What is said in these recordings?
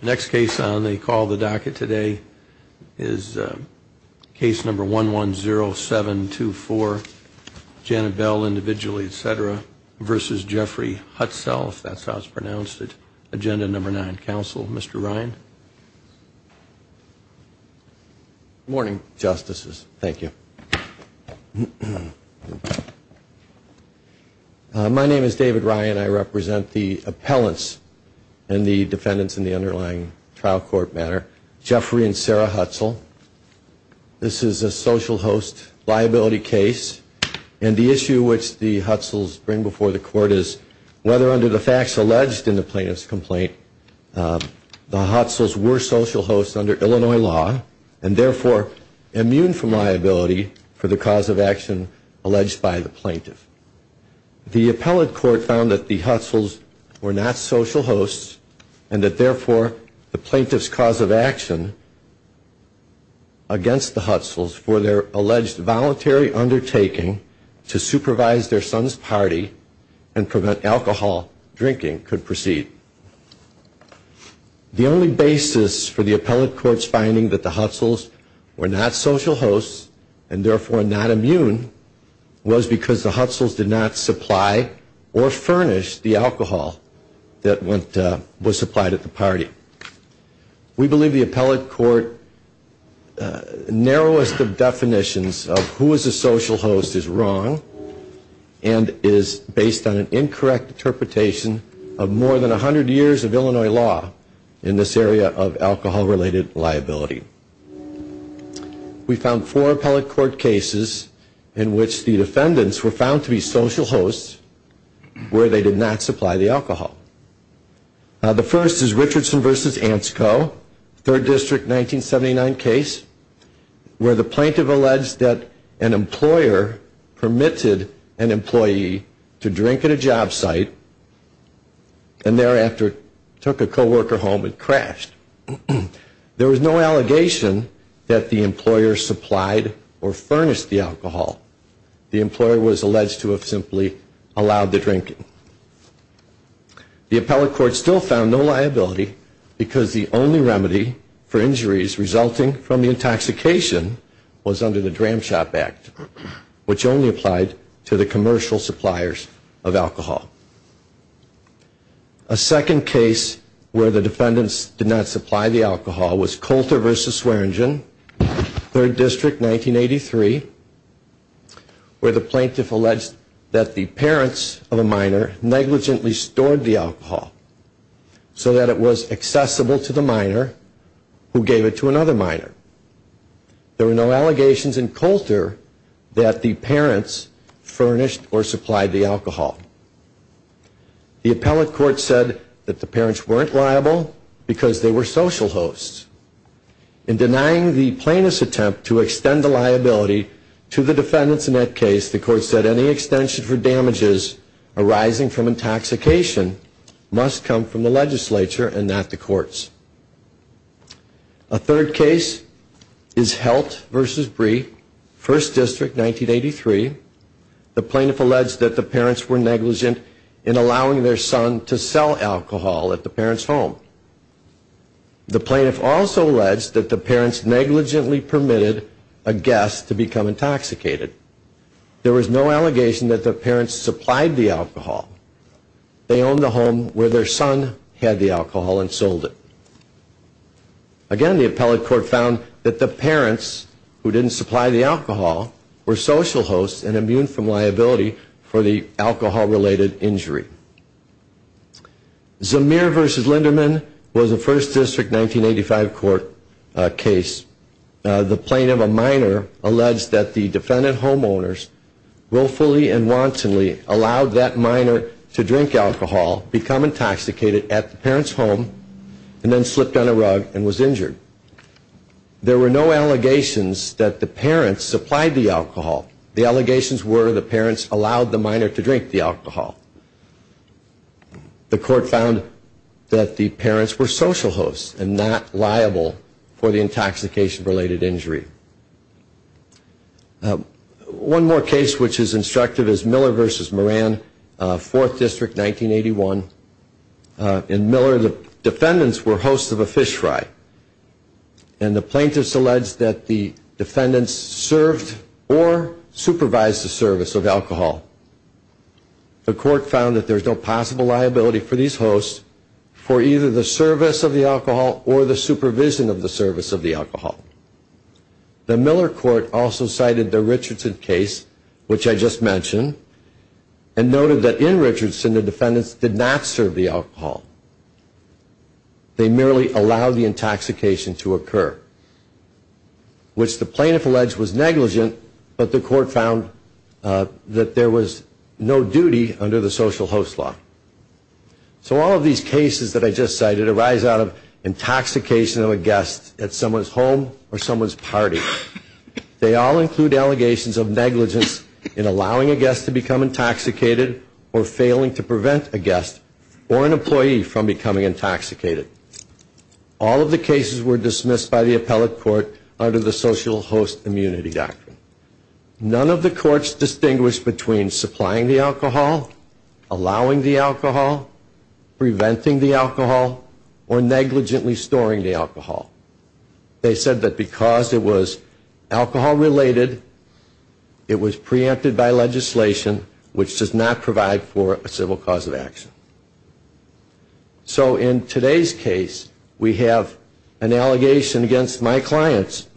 Next case on the call of the docket today is case number 110724, Janet Bell individually, etc. versus Jeffrey Hutsell, if that's how it's pronounced, at agenda number nine. Counsel, Mr. Ryan. Good morning, Justices. Thank you. My name is David Ryan. I represent the appellants and the defendants in the underlying trial court matter. Jeffrey and Sarah Hutsell. This is a social host liability case. And the issue which the Hutsells bring before the court is whether under the facts alleged in the plaintiff's complaint, the Hutsells were social hosts under Illinois law and therefore immune from liability for the cause of action alleged by the plaintiff. The appellate court found that the Hutsells were not social hosts and that therefore the plaintiff's cause of action against the Hutsells for their alleged voluntary undertaking to supervise their son's party and prevent alcohol drinking could proceed. The only basis for the appellate court's finding that the Hutsells were not social hosts and therefore not immune was because the Hutsells did not supply or furnish the alcohol that was supplied at the party. We believe the appellate court narrowest of definitions of who is a social host is wrong and is based on an incorrect interpretation of more than 100 years of Illinois law in this area of alcohol related liability. We found four appellate court cases in which the defendants were found to be social hosts where they did not supply the alcohol. The first is Richardson v. Ansco, 3rd District 1979 case where the plaintiff alleged that an employer permitted an employee to drink at a job site and thereafter took a co-worker home and crashed. There was no allegation that the employer supplied or furnished the alcohol. The employer was alleged to have simply allowed the drinking. The appellate court still found no liability because the only remedy for injuries resulting from the intoxication was under the Dram Shop Act which only applied to the commercial suppliers of alcohol. A second case where the defendants did not supply the alcohol was Coulter v. Swearingen, 3rd District 1983 where the plaintiff alleged that the parents of a minor negligently stored the alcohol so that it was accessible to the minor who gave it to another minor. There were no allegations in Coulter that the parents furnished or supplied the alcohol. The appellate court said that the parents weren't liable because they were social hosts. In denying the plaintiff's attempt to extend the liability to the defendants in that case, the court said any extension for damages arising from intoxication must come from the legislature and not the courts. A third case is Helt v. Bree, 1st District 1983. The plaintiff alleged that the parents were negligent in allowing their son to sell alcohol at the parents' home. The plaintiff also alleged that the parents negligently permitted a guest to become intoxicated. There was no allegation that the parents supplied the alcohol. They owned the home where their son had the alcohol and sold it. Again, the appellate court found that the parents who didn't supply the alcohol were social hosts and immune from liability for the alcohol-related injury. Zamir v. Linderman was a 1st District 1985 court case. The plaintiff, a minor, alleged that the defendant homeowners willfully and wantonly allowed that minor to drink alcohol, become intoxicated at the parents' home, and then slipped on a rug and was injured. There were no allegations that the parents supplied the alcohol. The allegations were the parents allowed the minor to drink the alcohol. The court found that the parents were social hosts and not liable for the intoxication-related injury. One more case which is instructive is Miller v. Moran, 4th District 1981. In Miller, the defendants were hosts of a fish fry, and the plaintiff alleged that the defendants served or supervised the service of alcohol. The court found that there is no possible liability for these hosts for either the service of the alcohol or the supervision of the service of the alcohol. The Miller court also cited the Richardson case, which I just mentioned, and noted that in Richardson, the defendants did not serve the alcohol. They merely allowed the intoxication to occur, which the plaintiff alleged was negligent, but the court found that there was no duty under the social host law. So all of these cases that I just cited arise out of intoxication of a guest at someone's home or someone's party. They all include allegations of negligence in allowing a guest to become intoxicated or failing to prevent a guest or an employee from becoming intoxicated. All of the cases were dismissed by the appellate court under the social host immunity doctrine. None of the courts distinguished between supplying the alcohol, allowing the alcohol, preventing the alcohol, or negligently storing the alcohol. They said that because it was alcohol-related, it was preempted by legislation, which does not provide for a civil cause of action. So in today's case, we have an allegation against my clients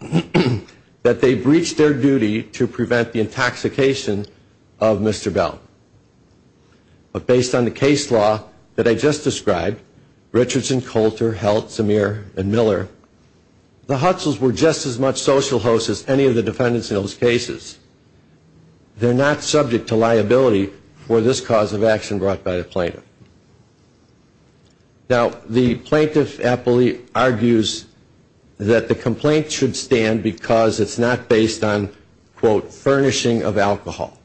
that they breached their duty to prevent the intoxication of Mr. Bell. But based on the case law that I just described, Richardson, Coulter, Heldt, Samir, and Miller, the Hutzels were just as much social hosts as any of the defendants in those cases. They're not subject to liability for this cause of action brought by the plaintiff. Now, the plaintiff appellee argues that the complaint should stand because it's not based on, quote, furnishing of alcohol.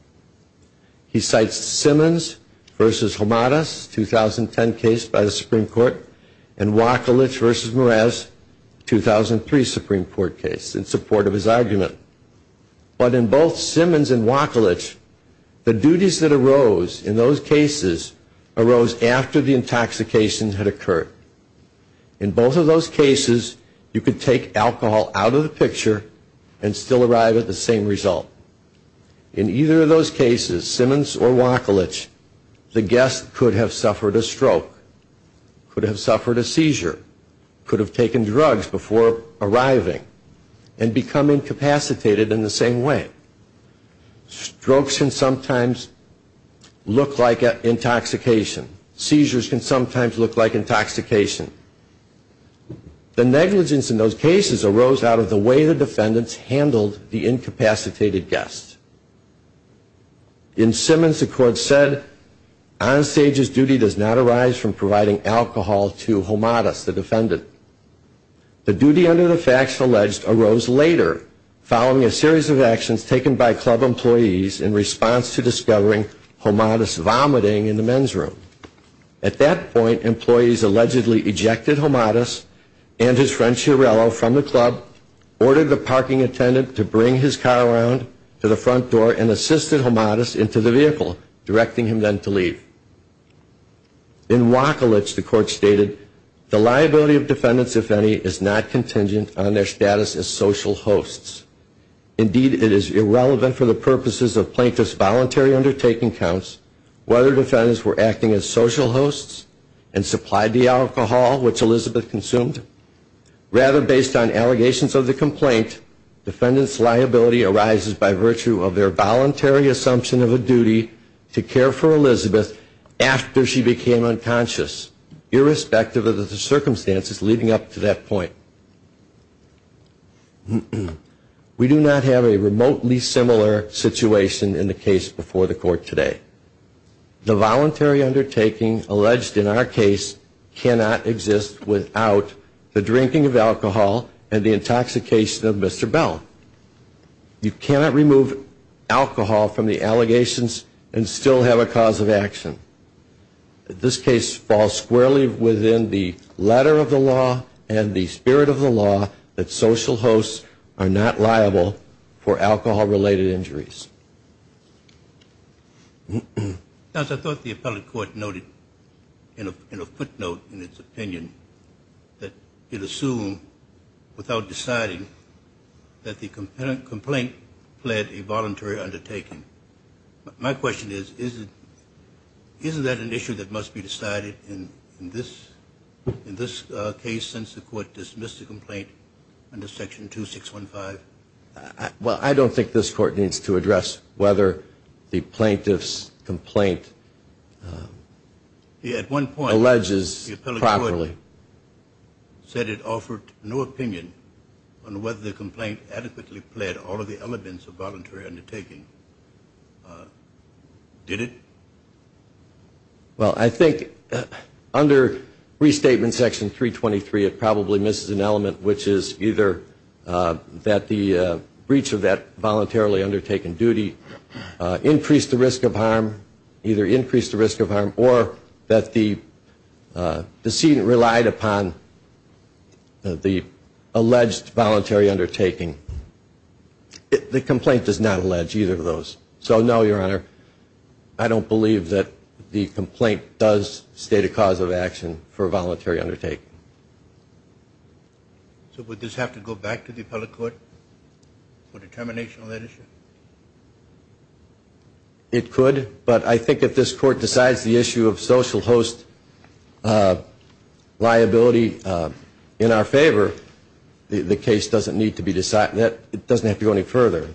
He cites Simmons v. Homadas, 2010 case by the Supreme Court, and Wachlich v. Mraz, 2003 Supreme Court case, in support of his argument. But in both Simmons and Wachlich, the duties that arose in those cases arose after the intoxication had occurred. In both of those cases, you could take alcohol out of the picture and still arrive at the same result. In either of those cases, Simmons or Wachlich, the guest could have suffered a stroke, could have suffered a seizure, could have taken drugs before arriving, and become incapacitated in the same way. Strokes can sometimes look like intoxication. Seizures can sometimes look like intoxication. The negligence in those cases arose out of the way the defendants handled the incapacitated guest. In Simmons, the court said, on stage's duty does not arise from providing alcohol to Homadas, the defendant. The duty under the facts alleged arose later, following a series of actions taken by club employees in response to discovering Homadas vomiting in the men's room. At that point, employees allegedly ejected Homadas and his friend Chiarella from the club, ordered the parking attendant to bring his car around to the front door, and assisted Homadas into the vehicle, directing him then to leave. In Wachlich, the court stated, the liability of defendants, if any, is not contingent on their status as social hosts. Indeed, it is irrelevant for the purposes of plaintiff's voluntary undertaking counts whether defendants were acting as social hosts and supplied the alcohol which Elizabeth consumed. Rather, based on allegations of the complaint, defendants' liability arises by virtue of their voluntary assumption of a duty to care for Elizabeth after she became unconscious, irrespective of the circumstances leading up to that point. We do not have a remotely similar situation in the case before the court today. The voluntary undertaking alleged in our case cannot exist without the drinking of alcohol and the intoxication of Mr. Bell. You cannot remove alcohol from the allegations and still have a cause of action. This case falls squarely within the letter of the law and the spirit of the law that social hosts are not liable for alcohol-related injuries. I thought the appellate court noted in a footnote in its opinion that it assumed without deciding that the complaint pled a voluntary undertaking. My question is, isn't that an issue that must be decided in this case, since the court dismissed the complaint under Section 2615? Well, I don't think this court needs to address whether the plaintiff's complaint alleges properly. You said it offered no opinion on whether the complaint adequately pled all of the elements of voluntary undertaking. Did it? Well, I think under Restatement Section 323, it probably misses an element, which is either that the breach of that voluntarily undertaken duty increased the risk of harm, either increased the risk of harm, or that the decedent relied on a voluntary undertaking. The complaint does not allege either of those. So, no, Your Honor, I don't believe that the complaint does state a cause of action for a voluntary undertaking. So would this have to go back to the appellate court for determination on that issue? It could, but I think if this court decides the issue of social host liability, in our favor, the case doesn't need to be decided. It doesn't have to go any further.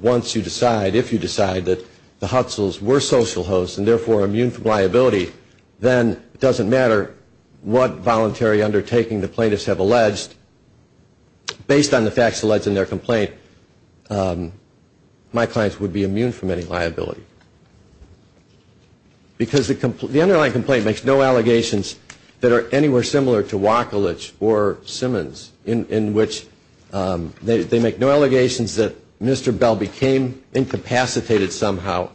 Once you decide, if you decide that the Hutzels were social hosts and therefore immune from liability, then it doesn't matter what voluntary undertaking the plaintiffs have alleged. Based on the facts alleged in their complaint, my clients would be immune from any liability. Because the underlying complaint makes no allegations that are anywhere similar to Wacolich or Simmons, in which they make no allegations that Mr. Bell became incapacitated somehow,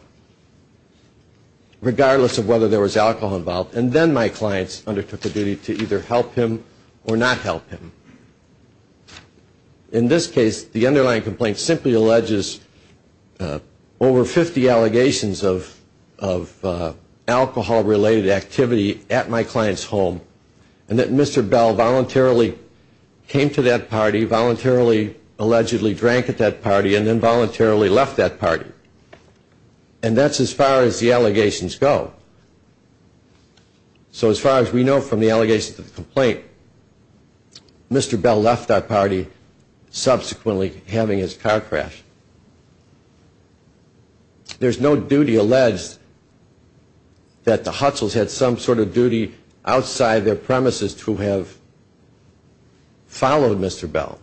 regardless of whether there was alcohol involved, and then my clients undertook a duty to either help him or not help him. In this case, the underlying complaint simply alleges over 50 allegations of alcohol, related activity at my client's home, and that Mr. Bell voluntarily came to that party, voluntarily allegedly drank at that party, and then voluntarily left that party. And that's as far as the allegations go. So as far as we know from the allegations of the complaint, Mr. Bell left that party, subsequently having his car crash. There's no duty alleged that the Hutzels had some sort of duty outside their premises to have followed Mr. Bell.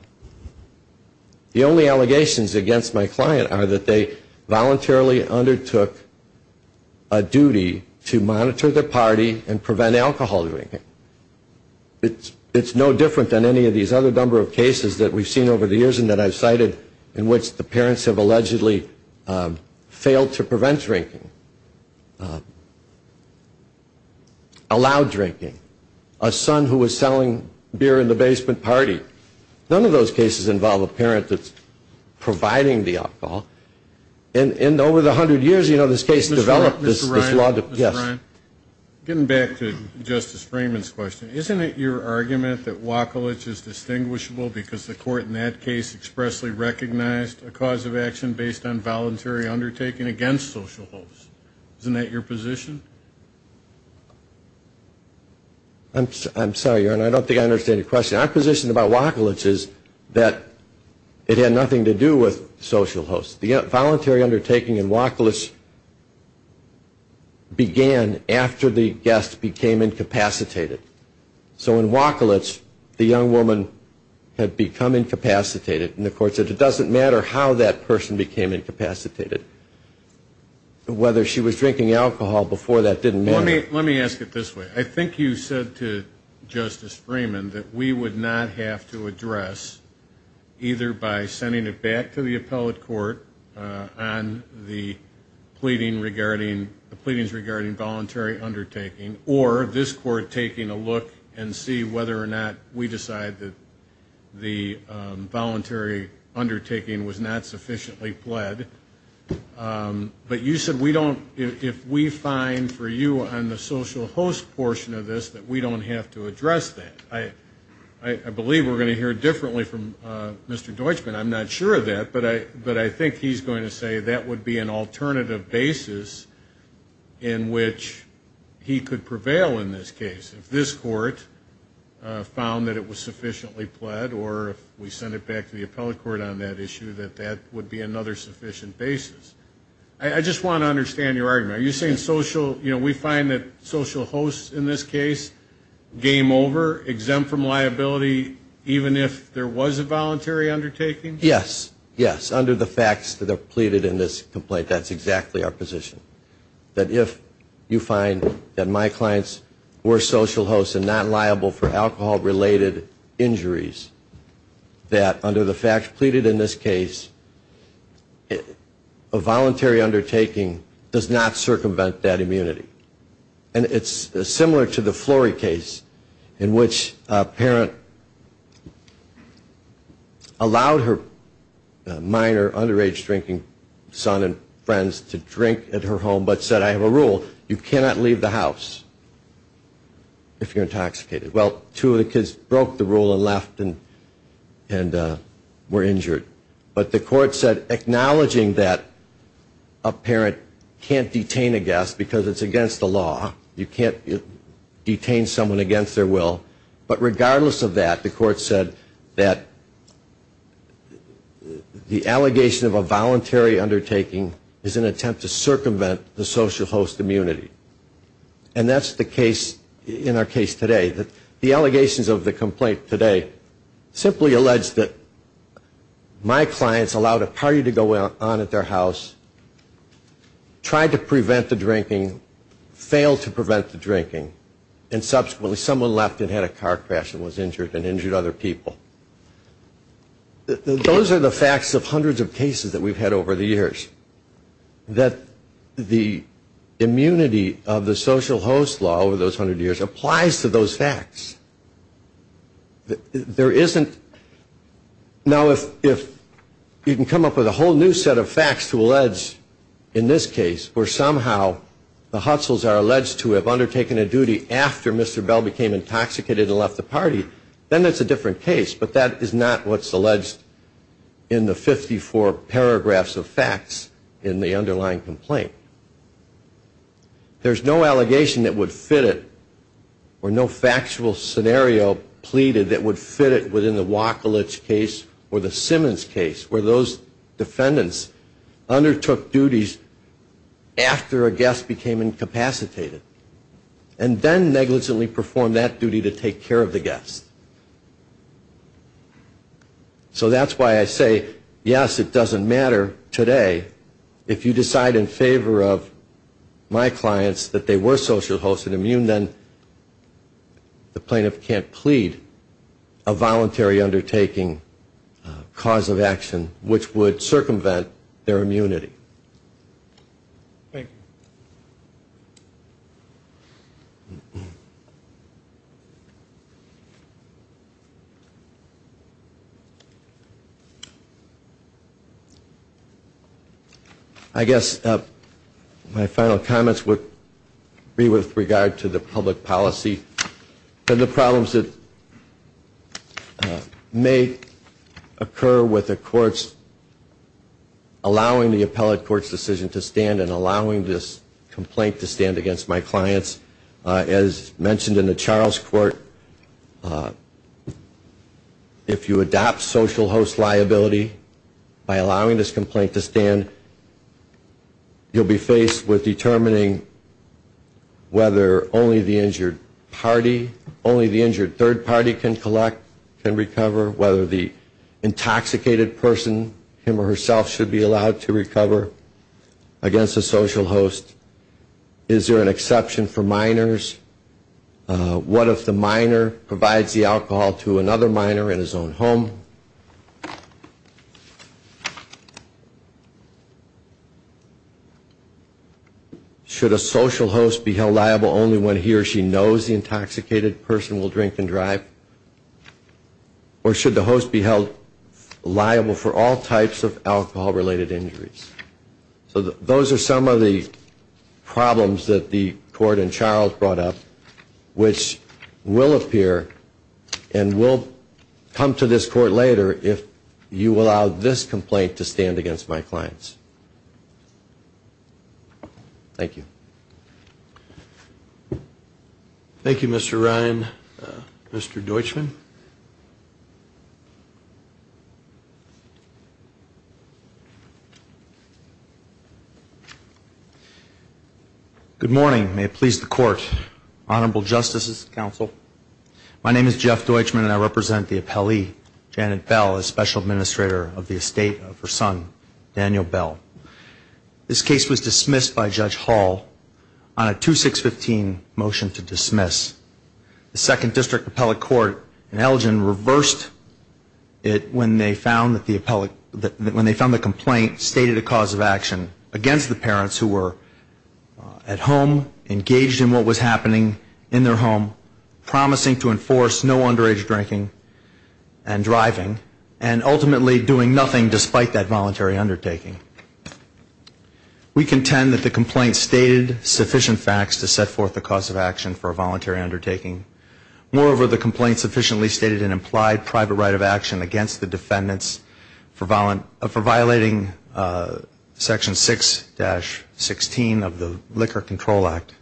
The only allegations against my client are that they voluntarily undertook a duty to monitor the party and prevent alcohol drinking. It's no different than any of these other number of cases that we've seen over the years and that I've cited, in which the parents have allegedly failed to prevent drinking, allowed drinking, a son who was selling beer in the basement party. None of those cases involve a parent that's providing the alcohol. And over the hundred years, you know, this case developed. Yes. Getting back to Justice Freeman's question, isn't it your argument that Wacolich is distinguishable because the court in that case expressly recognized a cause of action based on voluntary undertaking against social hosts? Isn't that your position? I'm sorry, Your Honor, I don't think I understand your question. Our position about Wacolich is that it had nothing to do with social hosts. The voluntary undertaking in Wacolich began after the guest became incapacitated. So in Wacolich, the young woman had become incapacitated, and the court said it doesn't matter how that person became incapacitated. Whether she was drinking alcohol before that didn't matter. Well, let me ask it this way. I think you said to Justice Freeman that we would not have to address, either by sending it back to the appellate court on the pleadings regarding voluntary undertaking, or this court taking a look and see whether or not we decide that the voluntary undertaking was not sufficiently pled. But you said we don't, if we find for you on the social host portion of this that we don't have to address that. I believe we're going to hear differently from Mr. Deutschman. I'm not sure of that, but I think he's going to say that would be an alternative basis in which he could prevail in this case. If this court found that it was sufficiently pled, or if we send it back to the appellate court on that issue, that that would be another sufficient basis. I just want to understand your argument. Are you saying social, you know, we find that social hosts in this case, game over, exempt from liability, even if there was a voluntary undertaking? Yes, yes, under the facts that are pleaded in this complaint, that's exactly our position. That if you find that my clients were social hosts and not liable for alcohol-related injuries, that under the facts pleaded in this case, that a voluntary undertaking does not circumvent that immunity. And it's similar to the Flory case in which a parent allowed her minor underage drinking son and friends to drink at her home, but said, I have a rule, you cannot leave the house if you're intoxicated. Well, two of the kids broke the rule and left and were injured. But the court said, acknowledging that a parent can't detain a guest because it's against the law. You can't detain someone against their will. But regardless of that, the court said that the allegation of a voluntary undertaking is an attempt to circumvent the social host immunity. And that's the case in our case today. The allegations of the complaint today simply allege that my clients allowed a party to go on at their house, tried to prevent the drinking, failed to prevent the drinking, and subsequently someone left and had a car crash and was injured and injured other people. Those are the facts of hundreds of cases that we've had over the years. And the fact is that the immunity of the social host law over those hundred years applies to those facts. Now, if you can come up with a whole new set of facts to allege in this case, where somehow the Hutzels are alleged to have undertaken a duty after Mr. Bell became intoxicated and left the party, then it's a different case. It's a different case in the underlying complaint. There's no allegation that would fit it or no factual scenario pleaded that would fit it within the Wachlich case or the Simmons case where those defendants undertook duties after a guest became incapacitated and then negligently performed that duty to take care of the guest. So that's why I say, yes, it doesn't matter today. If you decide in favor of my clients that they were social hosted immune, then the plaintiff can't plead a voluntary undertaking cause of action, which would circumvent their immunity. Thank you. I guess my final comments would be with regard to the public policy and the problems that may occur with the courts allowing the appellate court's decision to stand and allowing this complaint to stand against my clients. As mentioned in the Charles Court, if you adopt social host liability by allowing this complaint to stand, you'll be faced with determining whether only the injured party, only the injured third party can collect, can recover, whether the intoxicated person, him or herself, should be allowed to recover against a social host. Is there an exception for minors? What if the minor provides the alcohol to another minor in his own home? Should a social host be held liable only when he or she knows the intoxicated person will drink and drive? Or should the host be held liable for all types of alcohol-related injuries? So those are some of the problems that the court in Charles brought up, which will appear and will come to this court later if you allow this complaint to stand against my clients. Thank you. Thank you, Mr. Ryan. Mr. Deutschman. Good morning. May it please the Court. Honorable Justices and Counsel, my name is Jeff Deutschman and I represent the appellee, Janet Bell, the special administrator of the estate of her son, Daniel Bell. This case was dismissed by Judge Hall on a 2-6-15 motion to dismiss. The Second District Appellate Court in Elgin reversed it when they found that the appellate, when they found the complaint stated a cause of action against the parents who were at home, engaged in what was happening in their home, promising to enforce no underage drinking and driving, and ultimately doing nothing despite that voluntary undertaking. We contend that the complaint stated sufficient facts to set forth a cause of action for a voluntary undertaking. Moreover, the complaint sufficiently stated an implied private right of action against the defendants for violating Section 6-16 of the Liquor Control Act.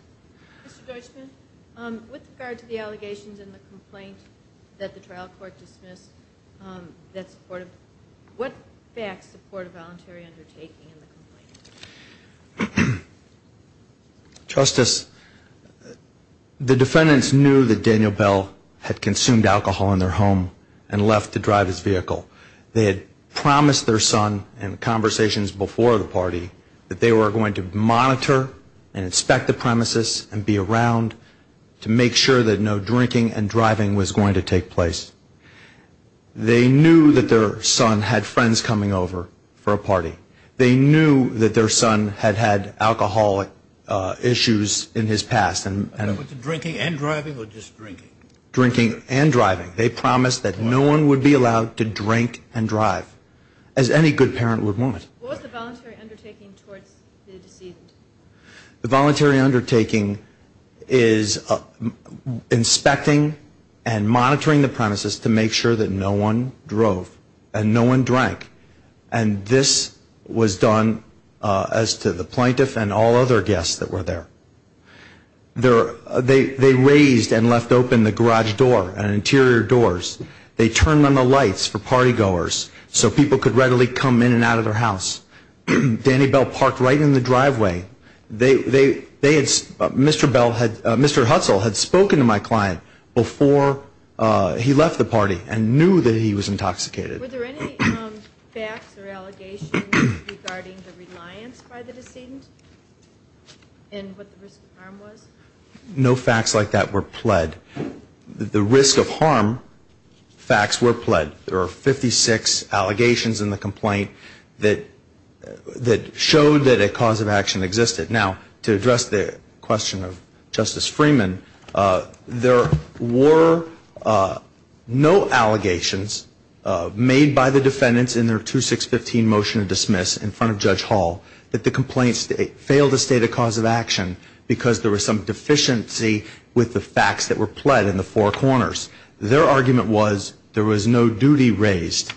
Mr. Deutschman, with regard to the allegations in the complaint that the trial court dismissed, what facts support a voluntary undertaking in the complaint? Justice, the defendants knew that Daniel Bell had consumed alcohol in their home and left to drive his vehicle. They had promised their son in conversations before the party that they were going to monitor and inspect the premises and be around to make sure that no drinking and driving was going to take place. They knew that their son had friends coming over for a party. They knew that their son had had alcohol issues in his past. Was it drinking and driving or just drinking? Drinking and driving. They promised that no one would be allowed to drink and drive, as any good parent would want. What was the voluntary undertaking towards the deceased? The voluntary undertaking is inspecting and monitoring the premises to make sure that no one drove and no one drank. And this was done as to the plaintiff and all other guests that were there. They raised and left open the garage door and interior doors. They turned on the lights for party goers so people could readily come in and out of their house. Danny Bell parked right in the driveway. Mr. Hudson had spoken to my client before he left the party and knew that he was intoxicated. Were there any facts or allegations regarding the reliance by the decedent and what the risk of harm was? No facts like that were pled. The risk of harm facts were pled. There were 56 allegations in the complaint that showed that a cause of action existed. Now, to address the question of Justice Freeman, there were no allegations made by the defendants in their 2-6-15 motion of dismiss in front of Judge Hall that the complaint failed to state a cause of action because there was some deficiency with the facts that were pled. In the four corners, their argument was there was no duty raised.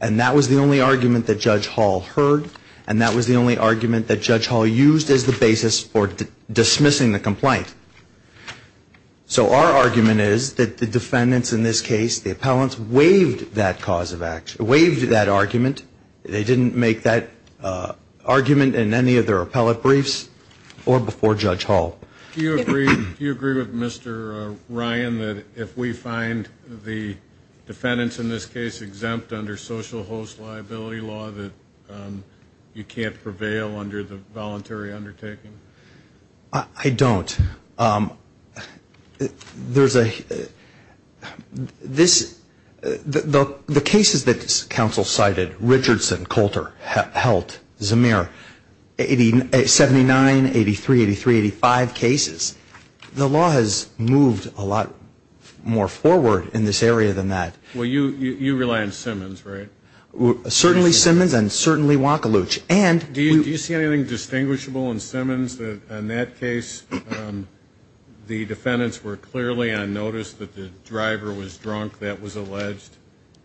And that was the only argument that Judge Hall heard, and that was the only argument that Judge Hall used as the basis for dismissing the complaint. So our argument is that the defendants in this case, the appellants, waived that cause of action, waived that argument. They didn't make that argument in any of their appellate briefs or before Judge Hall. Do you agree with Mr. Ryan that if we find the defendants in this case exempt under social host liability law that you can't prevail under the voluntary undertaking? I don't. The cases that counsel cited, Richardson, Coulter, Heldt, Zemir, 79, 83, 83, 85, that are not subject to social host liability law. Those are not cases. The law has moved a lot more forward in this area than that. Well, you rely on Simmons, right? Certainly Simmons and certainly Wacoluch. And do you see anything distinguishable in Simmons that in that case the defendants were clearly on notice that the driver was drunk, that was alleged,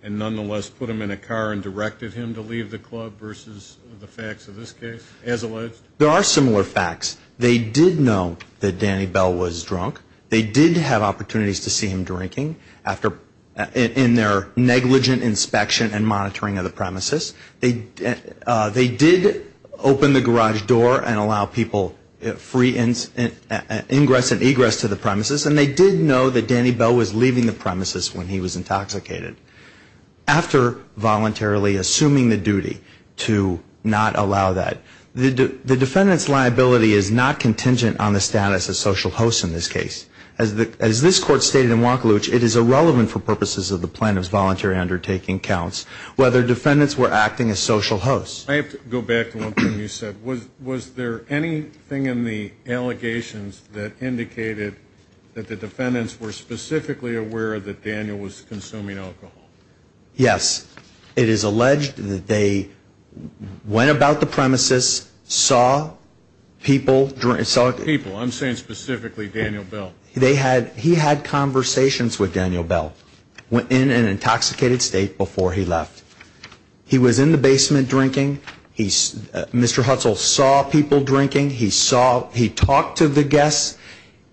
and nonetheless put him in a car and directed him to leave the club versus the facts of this case, as alleged? The defendants did know that Danny Bell was drunk. They did have opportunities to see him drinking in their negligent inspection and monitoring of the premises. They did open the garage door and allow people free ingress and egress to the premises. And they did know that Danny Bell was leaving the premises when he was intoxicated. After voluntarily assuming the duty to not allow that, the defendant's liability is not contingent on the status of social host in this case. As this Court stated in Wacoluch, it is irrelevant for purposes of the plaintiff's voluntary undertaking counts whether defendants were acting as social hosts. I have to go back to one thing you said. Was there anything in the allegations that indicated that the defendants were specifically aware that Daniel was consuming alcohol? Yes. It is alleged that they went about the premises, saw people, saw people. I'm saying specifically Daniel Bell. He had conversations with Daniel Bell in an intoxicated state before he left. He was in the basement drinking. Mr. Hutzel saw people drinking. He talked to the guests.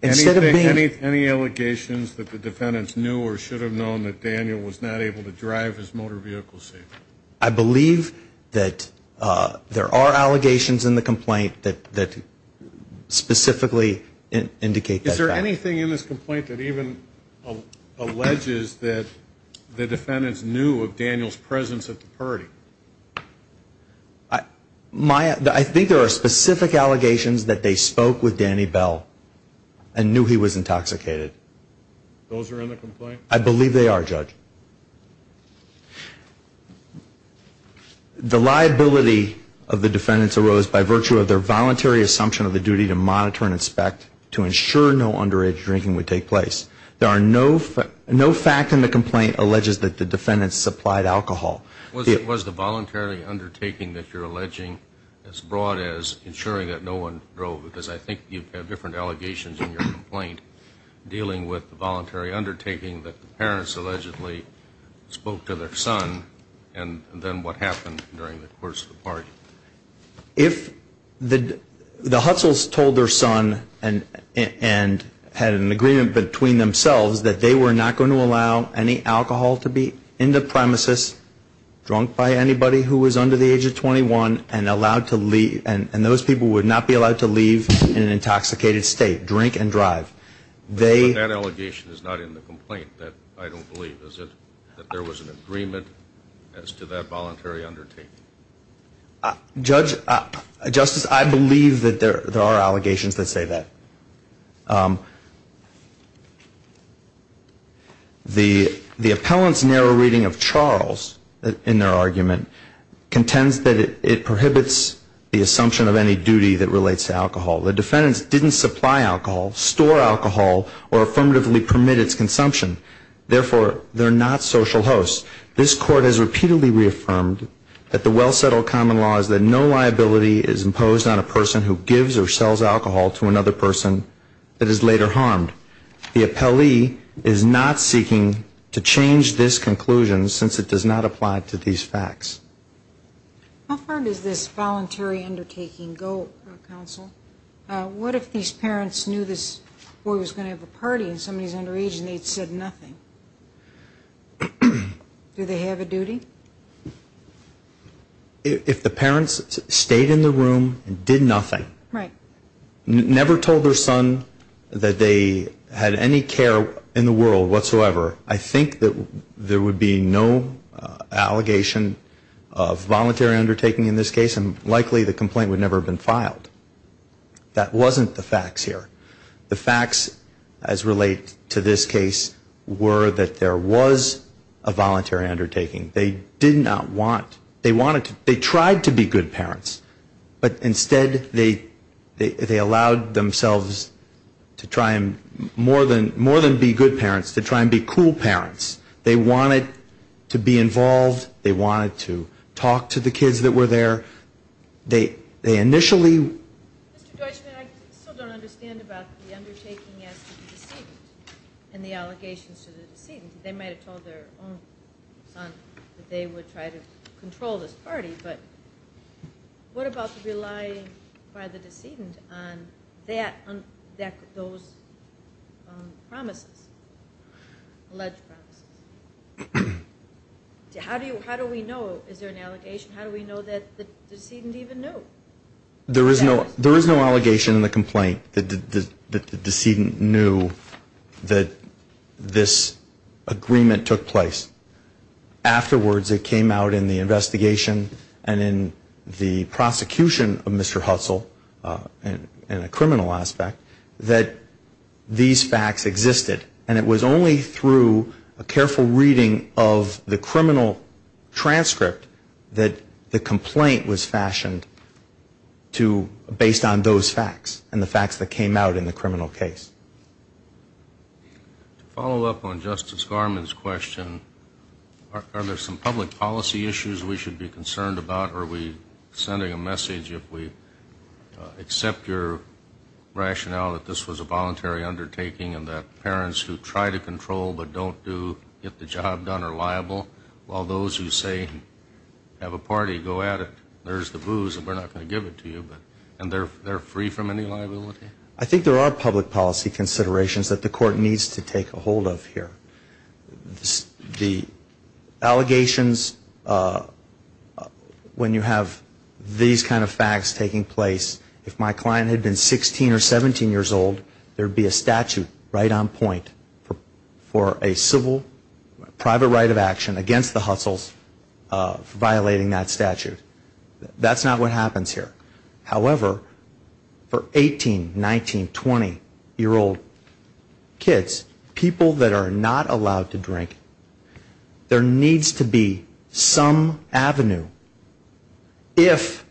Any allegations that the defendants knew or should have known that Daniel was not able to drive his motor vehicle safely? I believe that there are allegations in the complaint that specifically indicate that. Is there anything in this complaint that even alleges that the defendants knew of Daniel's presence at the party? I think there are specific allegations that they spoke with Danny Bell and knew he was intoxicated. Those are in the complaint? I believe they are, Judge. The liability of the defendants arose by virtue of their voluntary assumption of the duty to monitor and inspect to ensure no underage drinking would take place. There are no facts in the complaint alleges that the defendants supplied alcohol. Was the voluntary undertaking that you're alleging as broad as ensuring that no one drove? I think you have different allegations in your complaint dealing with the voluntary undertaking that the parents allegedly spoke to their son and then what happened during the course of the party. The Hutzels told their son and had an agreement between themselves that they were not going to allow any alcohol to be in the premises, drunk by anybody who was under the age of 21, and those people would not be allowed to leave. They would not be allowed to leave in an intoxicated state, drink and drive. But that allegation is not in the complaint that I don't believe, is it? That there was an agreement as to that voluntary undertaking? Justice, I believe that there are allegations that say that. The appellant's narrow reading of Charles in their argument contends that it prohibits the assumption of any duty that relates to alcohol. The defendants didn't supply alcohol, store alcohol, or affirmatively permit its consumption. Therefore, they're not social hosts. This Court has repeatedly reaffirmed that the well-settled common law is that no liability is imposed on a person who gives or sells alcohol to another person that is not a social host. The appellee is not seeking to change this conclusion since it does not apply to these facts. How far does this voluntary undertaking go, counsel? What if these parents knew this boy was going to have a party and somebody's underage and they'd said nothing? Do they have a duty? If the parents stayed in the room and did nothing. Never told their son that they had any care in the world whatsoever. I think that there would be no allegation of voluntary undertaking in this case and likely the complaint would never have been filed. That wasn't the facts here. The facts as related to this case were that there was a voluntary undertaking. They did not want, they wanted, they tried to be good parents. But instead they allowed themselves to try and more than be good parents, to try and be cool parents. They wanted to be involved. They wanted to talk to the kids that were there. They initially. Mr. Deutschman, I still don't understand about the undertaking as to the decedent and the allegations to the decedent. They might have told their own son that they would try to control this party, but what about relying by the decedent on that, those promises, alleged promises? How do we know is there an allegation? How do we know that the decedent even knew? There is no allegation in the complaint that the decedent knew that this agreement took place. Afterwards it came out in the investigation and in the prosecution of Mr. Hutzel in a criminal aspect that these facts existed. And it was only through a careful reading of the criminal transcript that the complaint was fashioned based on those facts and the facts that came out in the criminal case. To follow up on Justice Garmon's question, are there some public policy issues we should be concerned about? Are we sending a message if we accept your rationale that this was a voluntary undertaking and that parents who try to control but don't get the job done are liable? While those who say, have a party, go at it, there's the booze and we're not going to give it to you, and they're free from any liability? I think there are public policy considerations that the court needs to take a hold of here. The allegations, when you have these kind of facts taking place, if my client had been 16 or 17 years old, there would be a statute right on point for a civil private right of action against the Hutzels violating that statute. That's not what happens here. However, for 18, 19, 20-year-old kids, people that are not allowed to drink, there needs to be some avenue if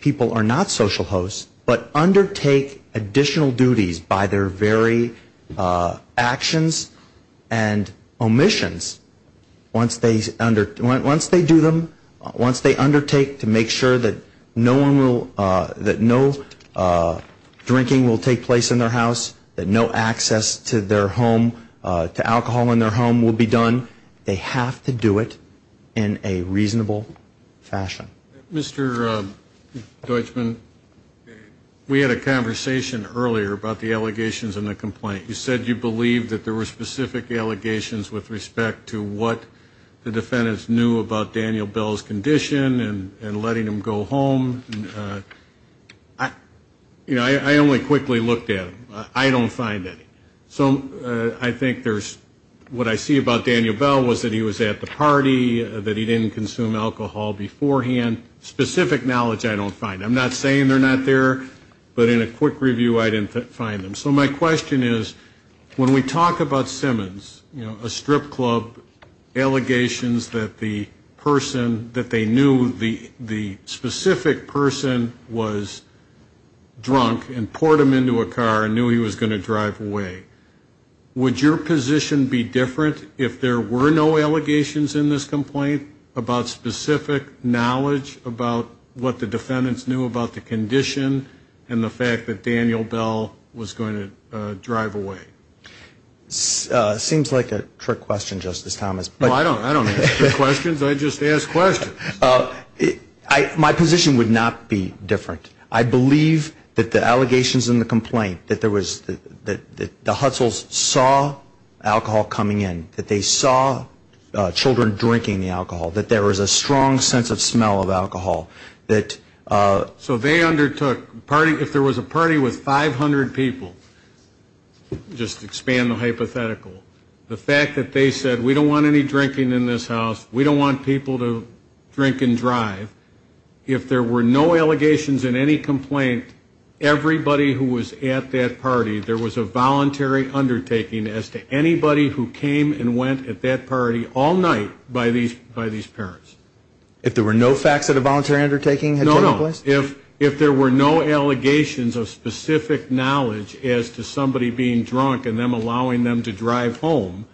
people are not social hosts, but undertake additional duties by their very actions and omissions once they do them, once they undertake to make sure that no drinking will take place in their house, that no access to alcohol in their home will be done, they have to do it in a reasonable fashion. Mr. Deutschman, we had a conversation earlier about the allegations and the complaint. You said you believed that there were specific allegations with respect to what the defendants knew about Daniel Bell's condition and letting him go home. I only quickly looked at him. I don't find any. So I think there's, what I see about Daniel Bell was that he was at the party, that he didn't consume alcohol beforehand. Specific knowledge I don't find. I'm not saying they're not there, but in a quick review I didn't find them. So my question is, when we talk about Simmons, you know, a strip club, allegations that the person, that they knew the specific person was drunk and poured him into a car and knew he was going to drive away, would your position be different if there were no allegations in this complaint about specific knowledge about what the defendants knew about the condition and the fact that Daniel Bell was going to drive away? Seems like a trick question, Justice Thomas. I don't ask trick questions. I just ask questions. My position would not be different. I believe that the allegations in the complaint, that there was, that the Hutzels saw alcohol coming in, that they saw children drinking the alcohol, that there was a strong sense of smell of alcohol. So they undertook, if there was a party with 500 people, just to expand the hypothetical, the fact that they said, we don't want any drinking in this house, we don't want people to drink and drive, if there were no allegations in any complaint, everybody who was at that party, there was a voluntary undertaking as to anybody who came and went at that party all night by these parents. If there were no facts of the voluntary undertaking? No, no. If there were no allegations of specific knowledge as to somebody being drunk and them allowing them to drive home,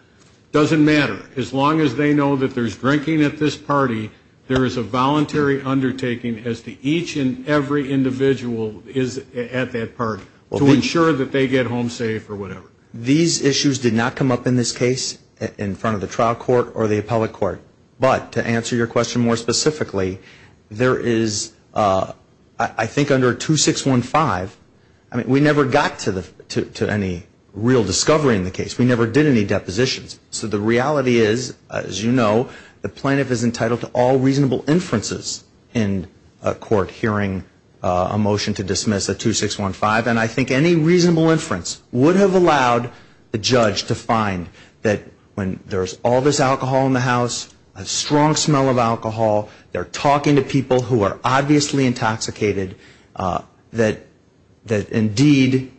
doesn't matter. As long as they know that there's drinking at this party, there is a voluntary undertaking as to each and every individual is at that party to ensure that they get home safe or whatever. These issues did not come up in this case in front of the trial court or the appellate court. But to answer your question more specifically, there is, I think under 2615, we never got to any real discovery in the case, we never did any depositions. So the reality is, as you know, the plaintiff is entitled to all reasonable inferences in court hearing a motion to dismiss at 2615, and I think any reasonable inference would have allowed the judge to find that when there's all this alcohol in the house, a strong smell of alcohol, they're talking to people who are obviously intoxicated, that indeed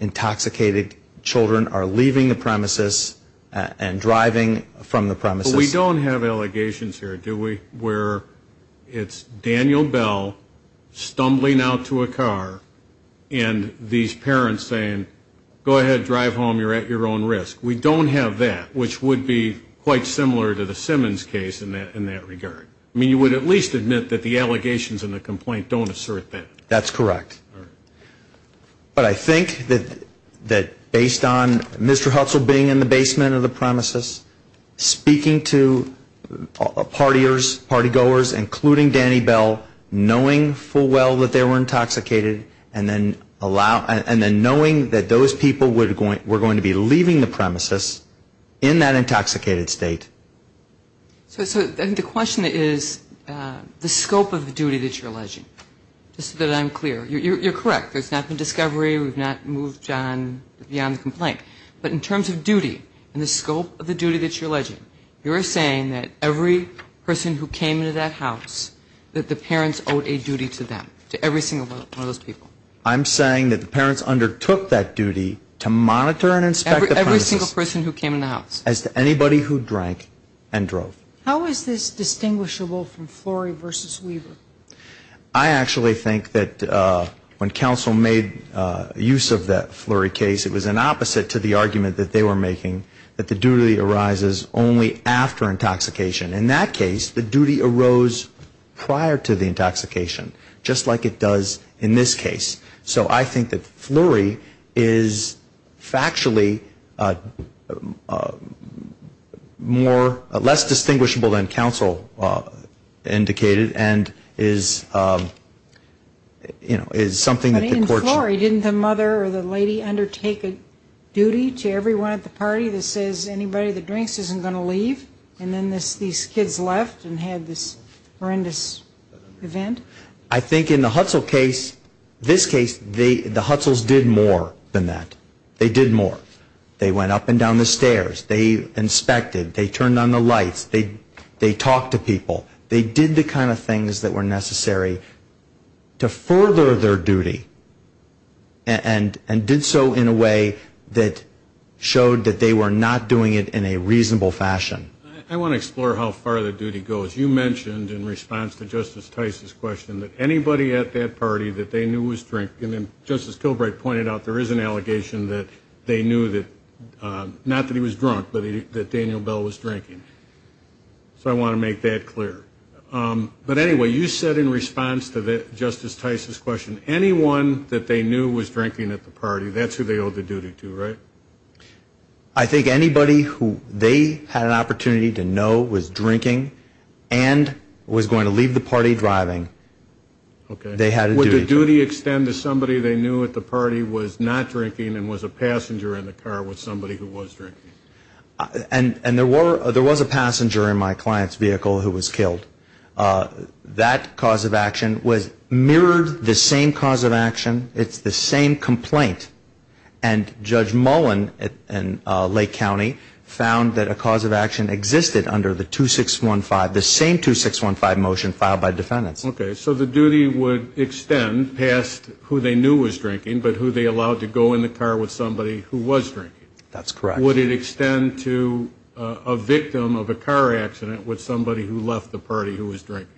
intoxicated children are leaving the premises and driving from the premises. But we don't have allegations here, do we, where it's Daniel Bell stumbling out to a car and these parents are saying, go ahead, drive home, you're at your own risk. We don't have that, which would be quite similar to the Simmons case in that regard. I mean, you would at least admit that the allegations in the complaint don't assert that. That's correct. But I think that based on Mr. Hutzel being in the basement of the premises, speaking to party-goers, including Danny Bell, knowing full well that they were intoxicated, and then knowing that those people were going to be leaving the premises in that intoxicated state. So I think the question is the scope of the duty that you're alleging, just so that I'm clear. You're correct. There's not been discovery, we've not moved beyond the complaint. But in terms of duty and the scope of the duty that you're alleging, you're saying that every person who came into that house, that the parents owed a duty to them, to every single one of those people. I'm saying that the parents undertook that duty to monitor and inspect the premises. Every single person who came in the house. As to anybody who drank and drove. How is this distinguishable from Flurry v. Weaver? I actually think that when counsel made use of that Flurry case, it was an opposite to the argument that they were making, that the duty arises only after intoxication. In that case, the duty arose prior to the intoxication. Just like it does in this case. So I think that Flurry is factually more, less distinguishable than counsel indicated. And is, you know, is something that the courts. But in Flurry, didn't the mother or the lady undertake a duty to everyone at the party that says anybody that drinks isn't going to leave? And then these kids left and had this horrendous event? I think in the Hutzel case, this case, the Hutzels did more than that. They did more. They went up and down the stairs, they inspected, they turned on the lights, they talked to people. They did the kind of things that were necessary to further their duty. And did so in a way that showed that they were not doing it in a reasonable fashion. I want to explore how far the duty goes. You mentioned in response to Justice Tice's question that anybody at that party that they knew was drinking. And Justice Kilbright pointed out there is an allegation that they knew that, not that he was drunk, but that Daniel Bell was drinking. So I want to make that clear. But anyway, you said in response to Justice Tice's question, anyone that they knew was drinking at the party, that's who they owed the duty to, right? I think anybody who they had an opportunity to know was drinking and was going to leave the party driving, they had a duty. Would the duty extend to somebody they knew at the party was not drinking and was a passenger in the car with somebody who was drinking? And there was a passenger in my client's vehicle who was killed. That cause of action was mirrored, the same cause of action, it's the same complaint. And Judge Mullen in Lake County found that a cause of action existed under the 2615, the same 2615 motion filed by defendants. Okay. So the duty would extend past who they knew was drinking, but who they allowed to go in the car with somebody who was drinking. That's correct. Would it extend to a victim of a car accident with somebody who left the party who was drinking?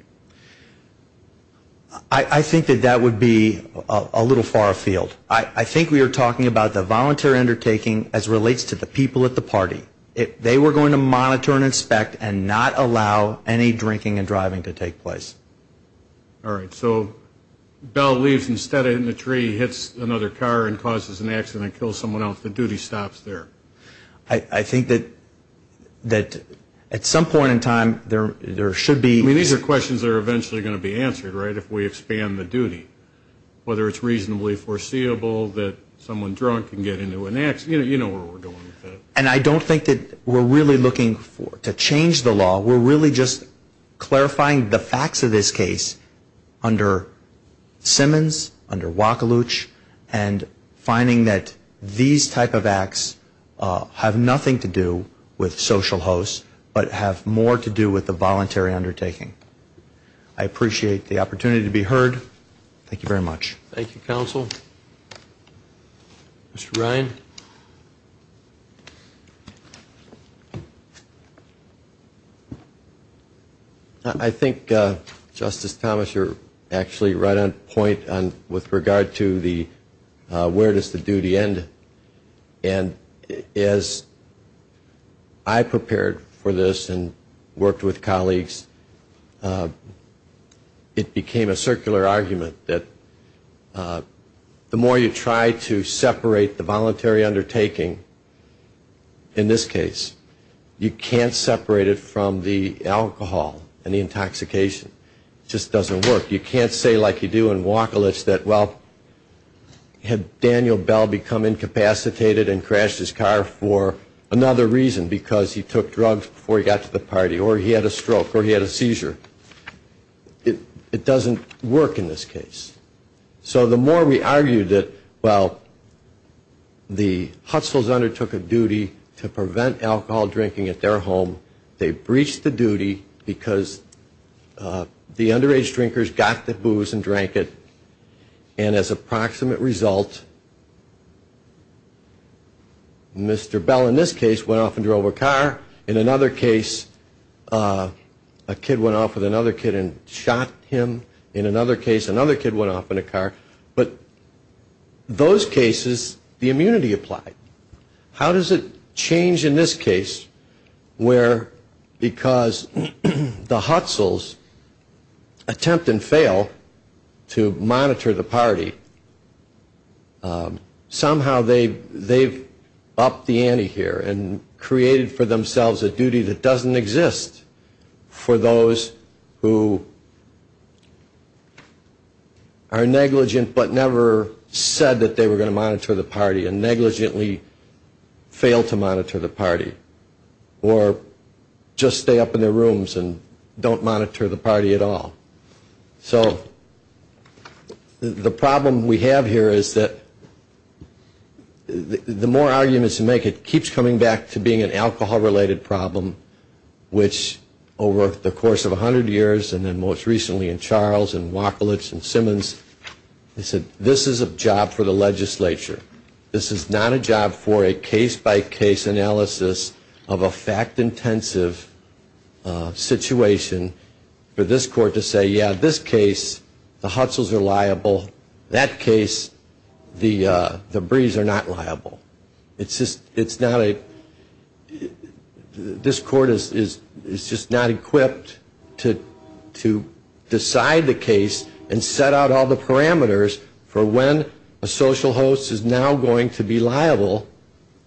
I think that that would be a little far afield. I think we are talking about the voluntary undertaking as relates to the people at the party. They were going to monitor and inspect and not allow any drinking and driving to take place. All right. So Bell leaves instead and the tree hits another car and causes an accident and kills someone else. The duty stops there. I think that at some point in time there should be. I mean, these are questions that are eventually going to be answered, right, if we expand the duty. Whether it's reasonably foreseeable that someone drunk can get into an accident, you know where we're going with that. And I don't think that we're really looking to change the law. We're really just clarifying the facts of this case under Simmons, under Wacoluch, and finding that these type of acts have nothing to do with social hosts, but have more to do with the voluntary undertaking. I appreciate the opportunity to be heard. Thank you very much. Thank you, Counsel. Mr. Ryan. I think, Justice Thomas, you're actually right on point with regard to the where does the duty end. And as I prepared for this and worked with colleagues, it became a circular argument that the more you try to separate the voluntary undertaking, in this case, you can't separate it from the alcohol and the intoxication. It just doesn't work. You can't say like you do in Wacoluch that, well, had Daniel Bell become incapacitated and crashed his car for another reason, because he took drugs before he got to the party, or he had a stroke, or he had a seizure. It doesn't work in this case. So the more we argue that, well, the Hustles undertook a duty to prevent alcohol drinking at their home, they breached the duty because the underage drinkers got the booze and drank it, and as a proximate result, Mr. Bell, in this case, went off in a car. In another case, a kid went off with another kid and shot him. In another case, another kid went off in a car. But those cases, the immunity applied. How does it change in this case where because the Hustles attempt and fail to monitor the party, somehow they've upped the ante here and created for themselves a duty that doesn't exist for those who are negligent but never said that they were going to monitor the party and negligently fail to monitor the party, or just stay up in their rooms and don't monitor the party at all. So the problem we have here is that the more arguments you make, it keeps coming back to being an alcohol-related problem, which over the course of 100 years, and then most recently in Charles and Wachlich and Simmons, they said this is a job for the legislature. This is not a job for a case-by-case analysis of a fact-intensive situation for this court to say, yeah, this case, the Hustles are liable. That case, the Brees are not liable. It's just, it's not a, this court is just not equipped to decide the case and set out all the parameters for when a social host is now going to be liable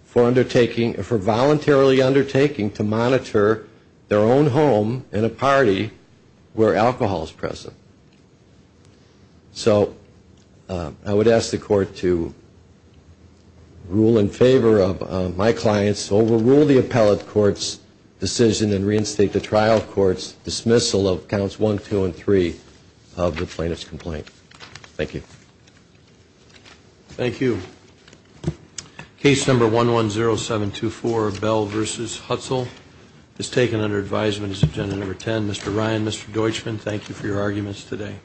for undertaking, for voluntarily undertaking to monitor their own home in a party where alcohol is present. So I would ask the court to rule in favor of my clients, overrule the appellate court's decision and reinstate the trial court's dismissal of counts one, two, and three of the plaintiff's complaint. Thank you. Thank you. Case number 110724, Bell v. Hustle, is taken under advisement as agenda number 10. Mr. Ryan, Mr. Deutschman, thank you for your arguments today.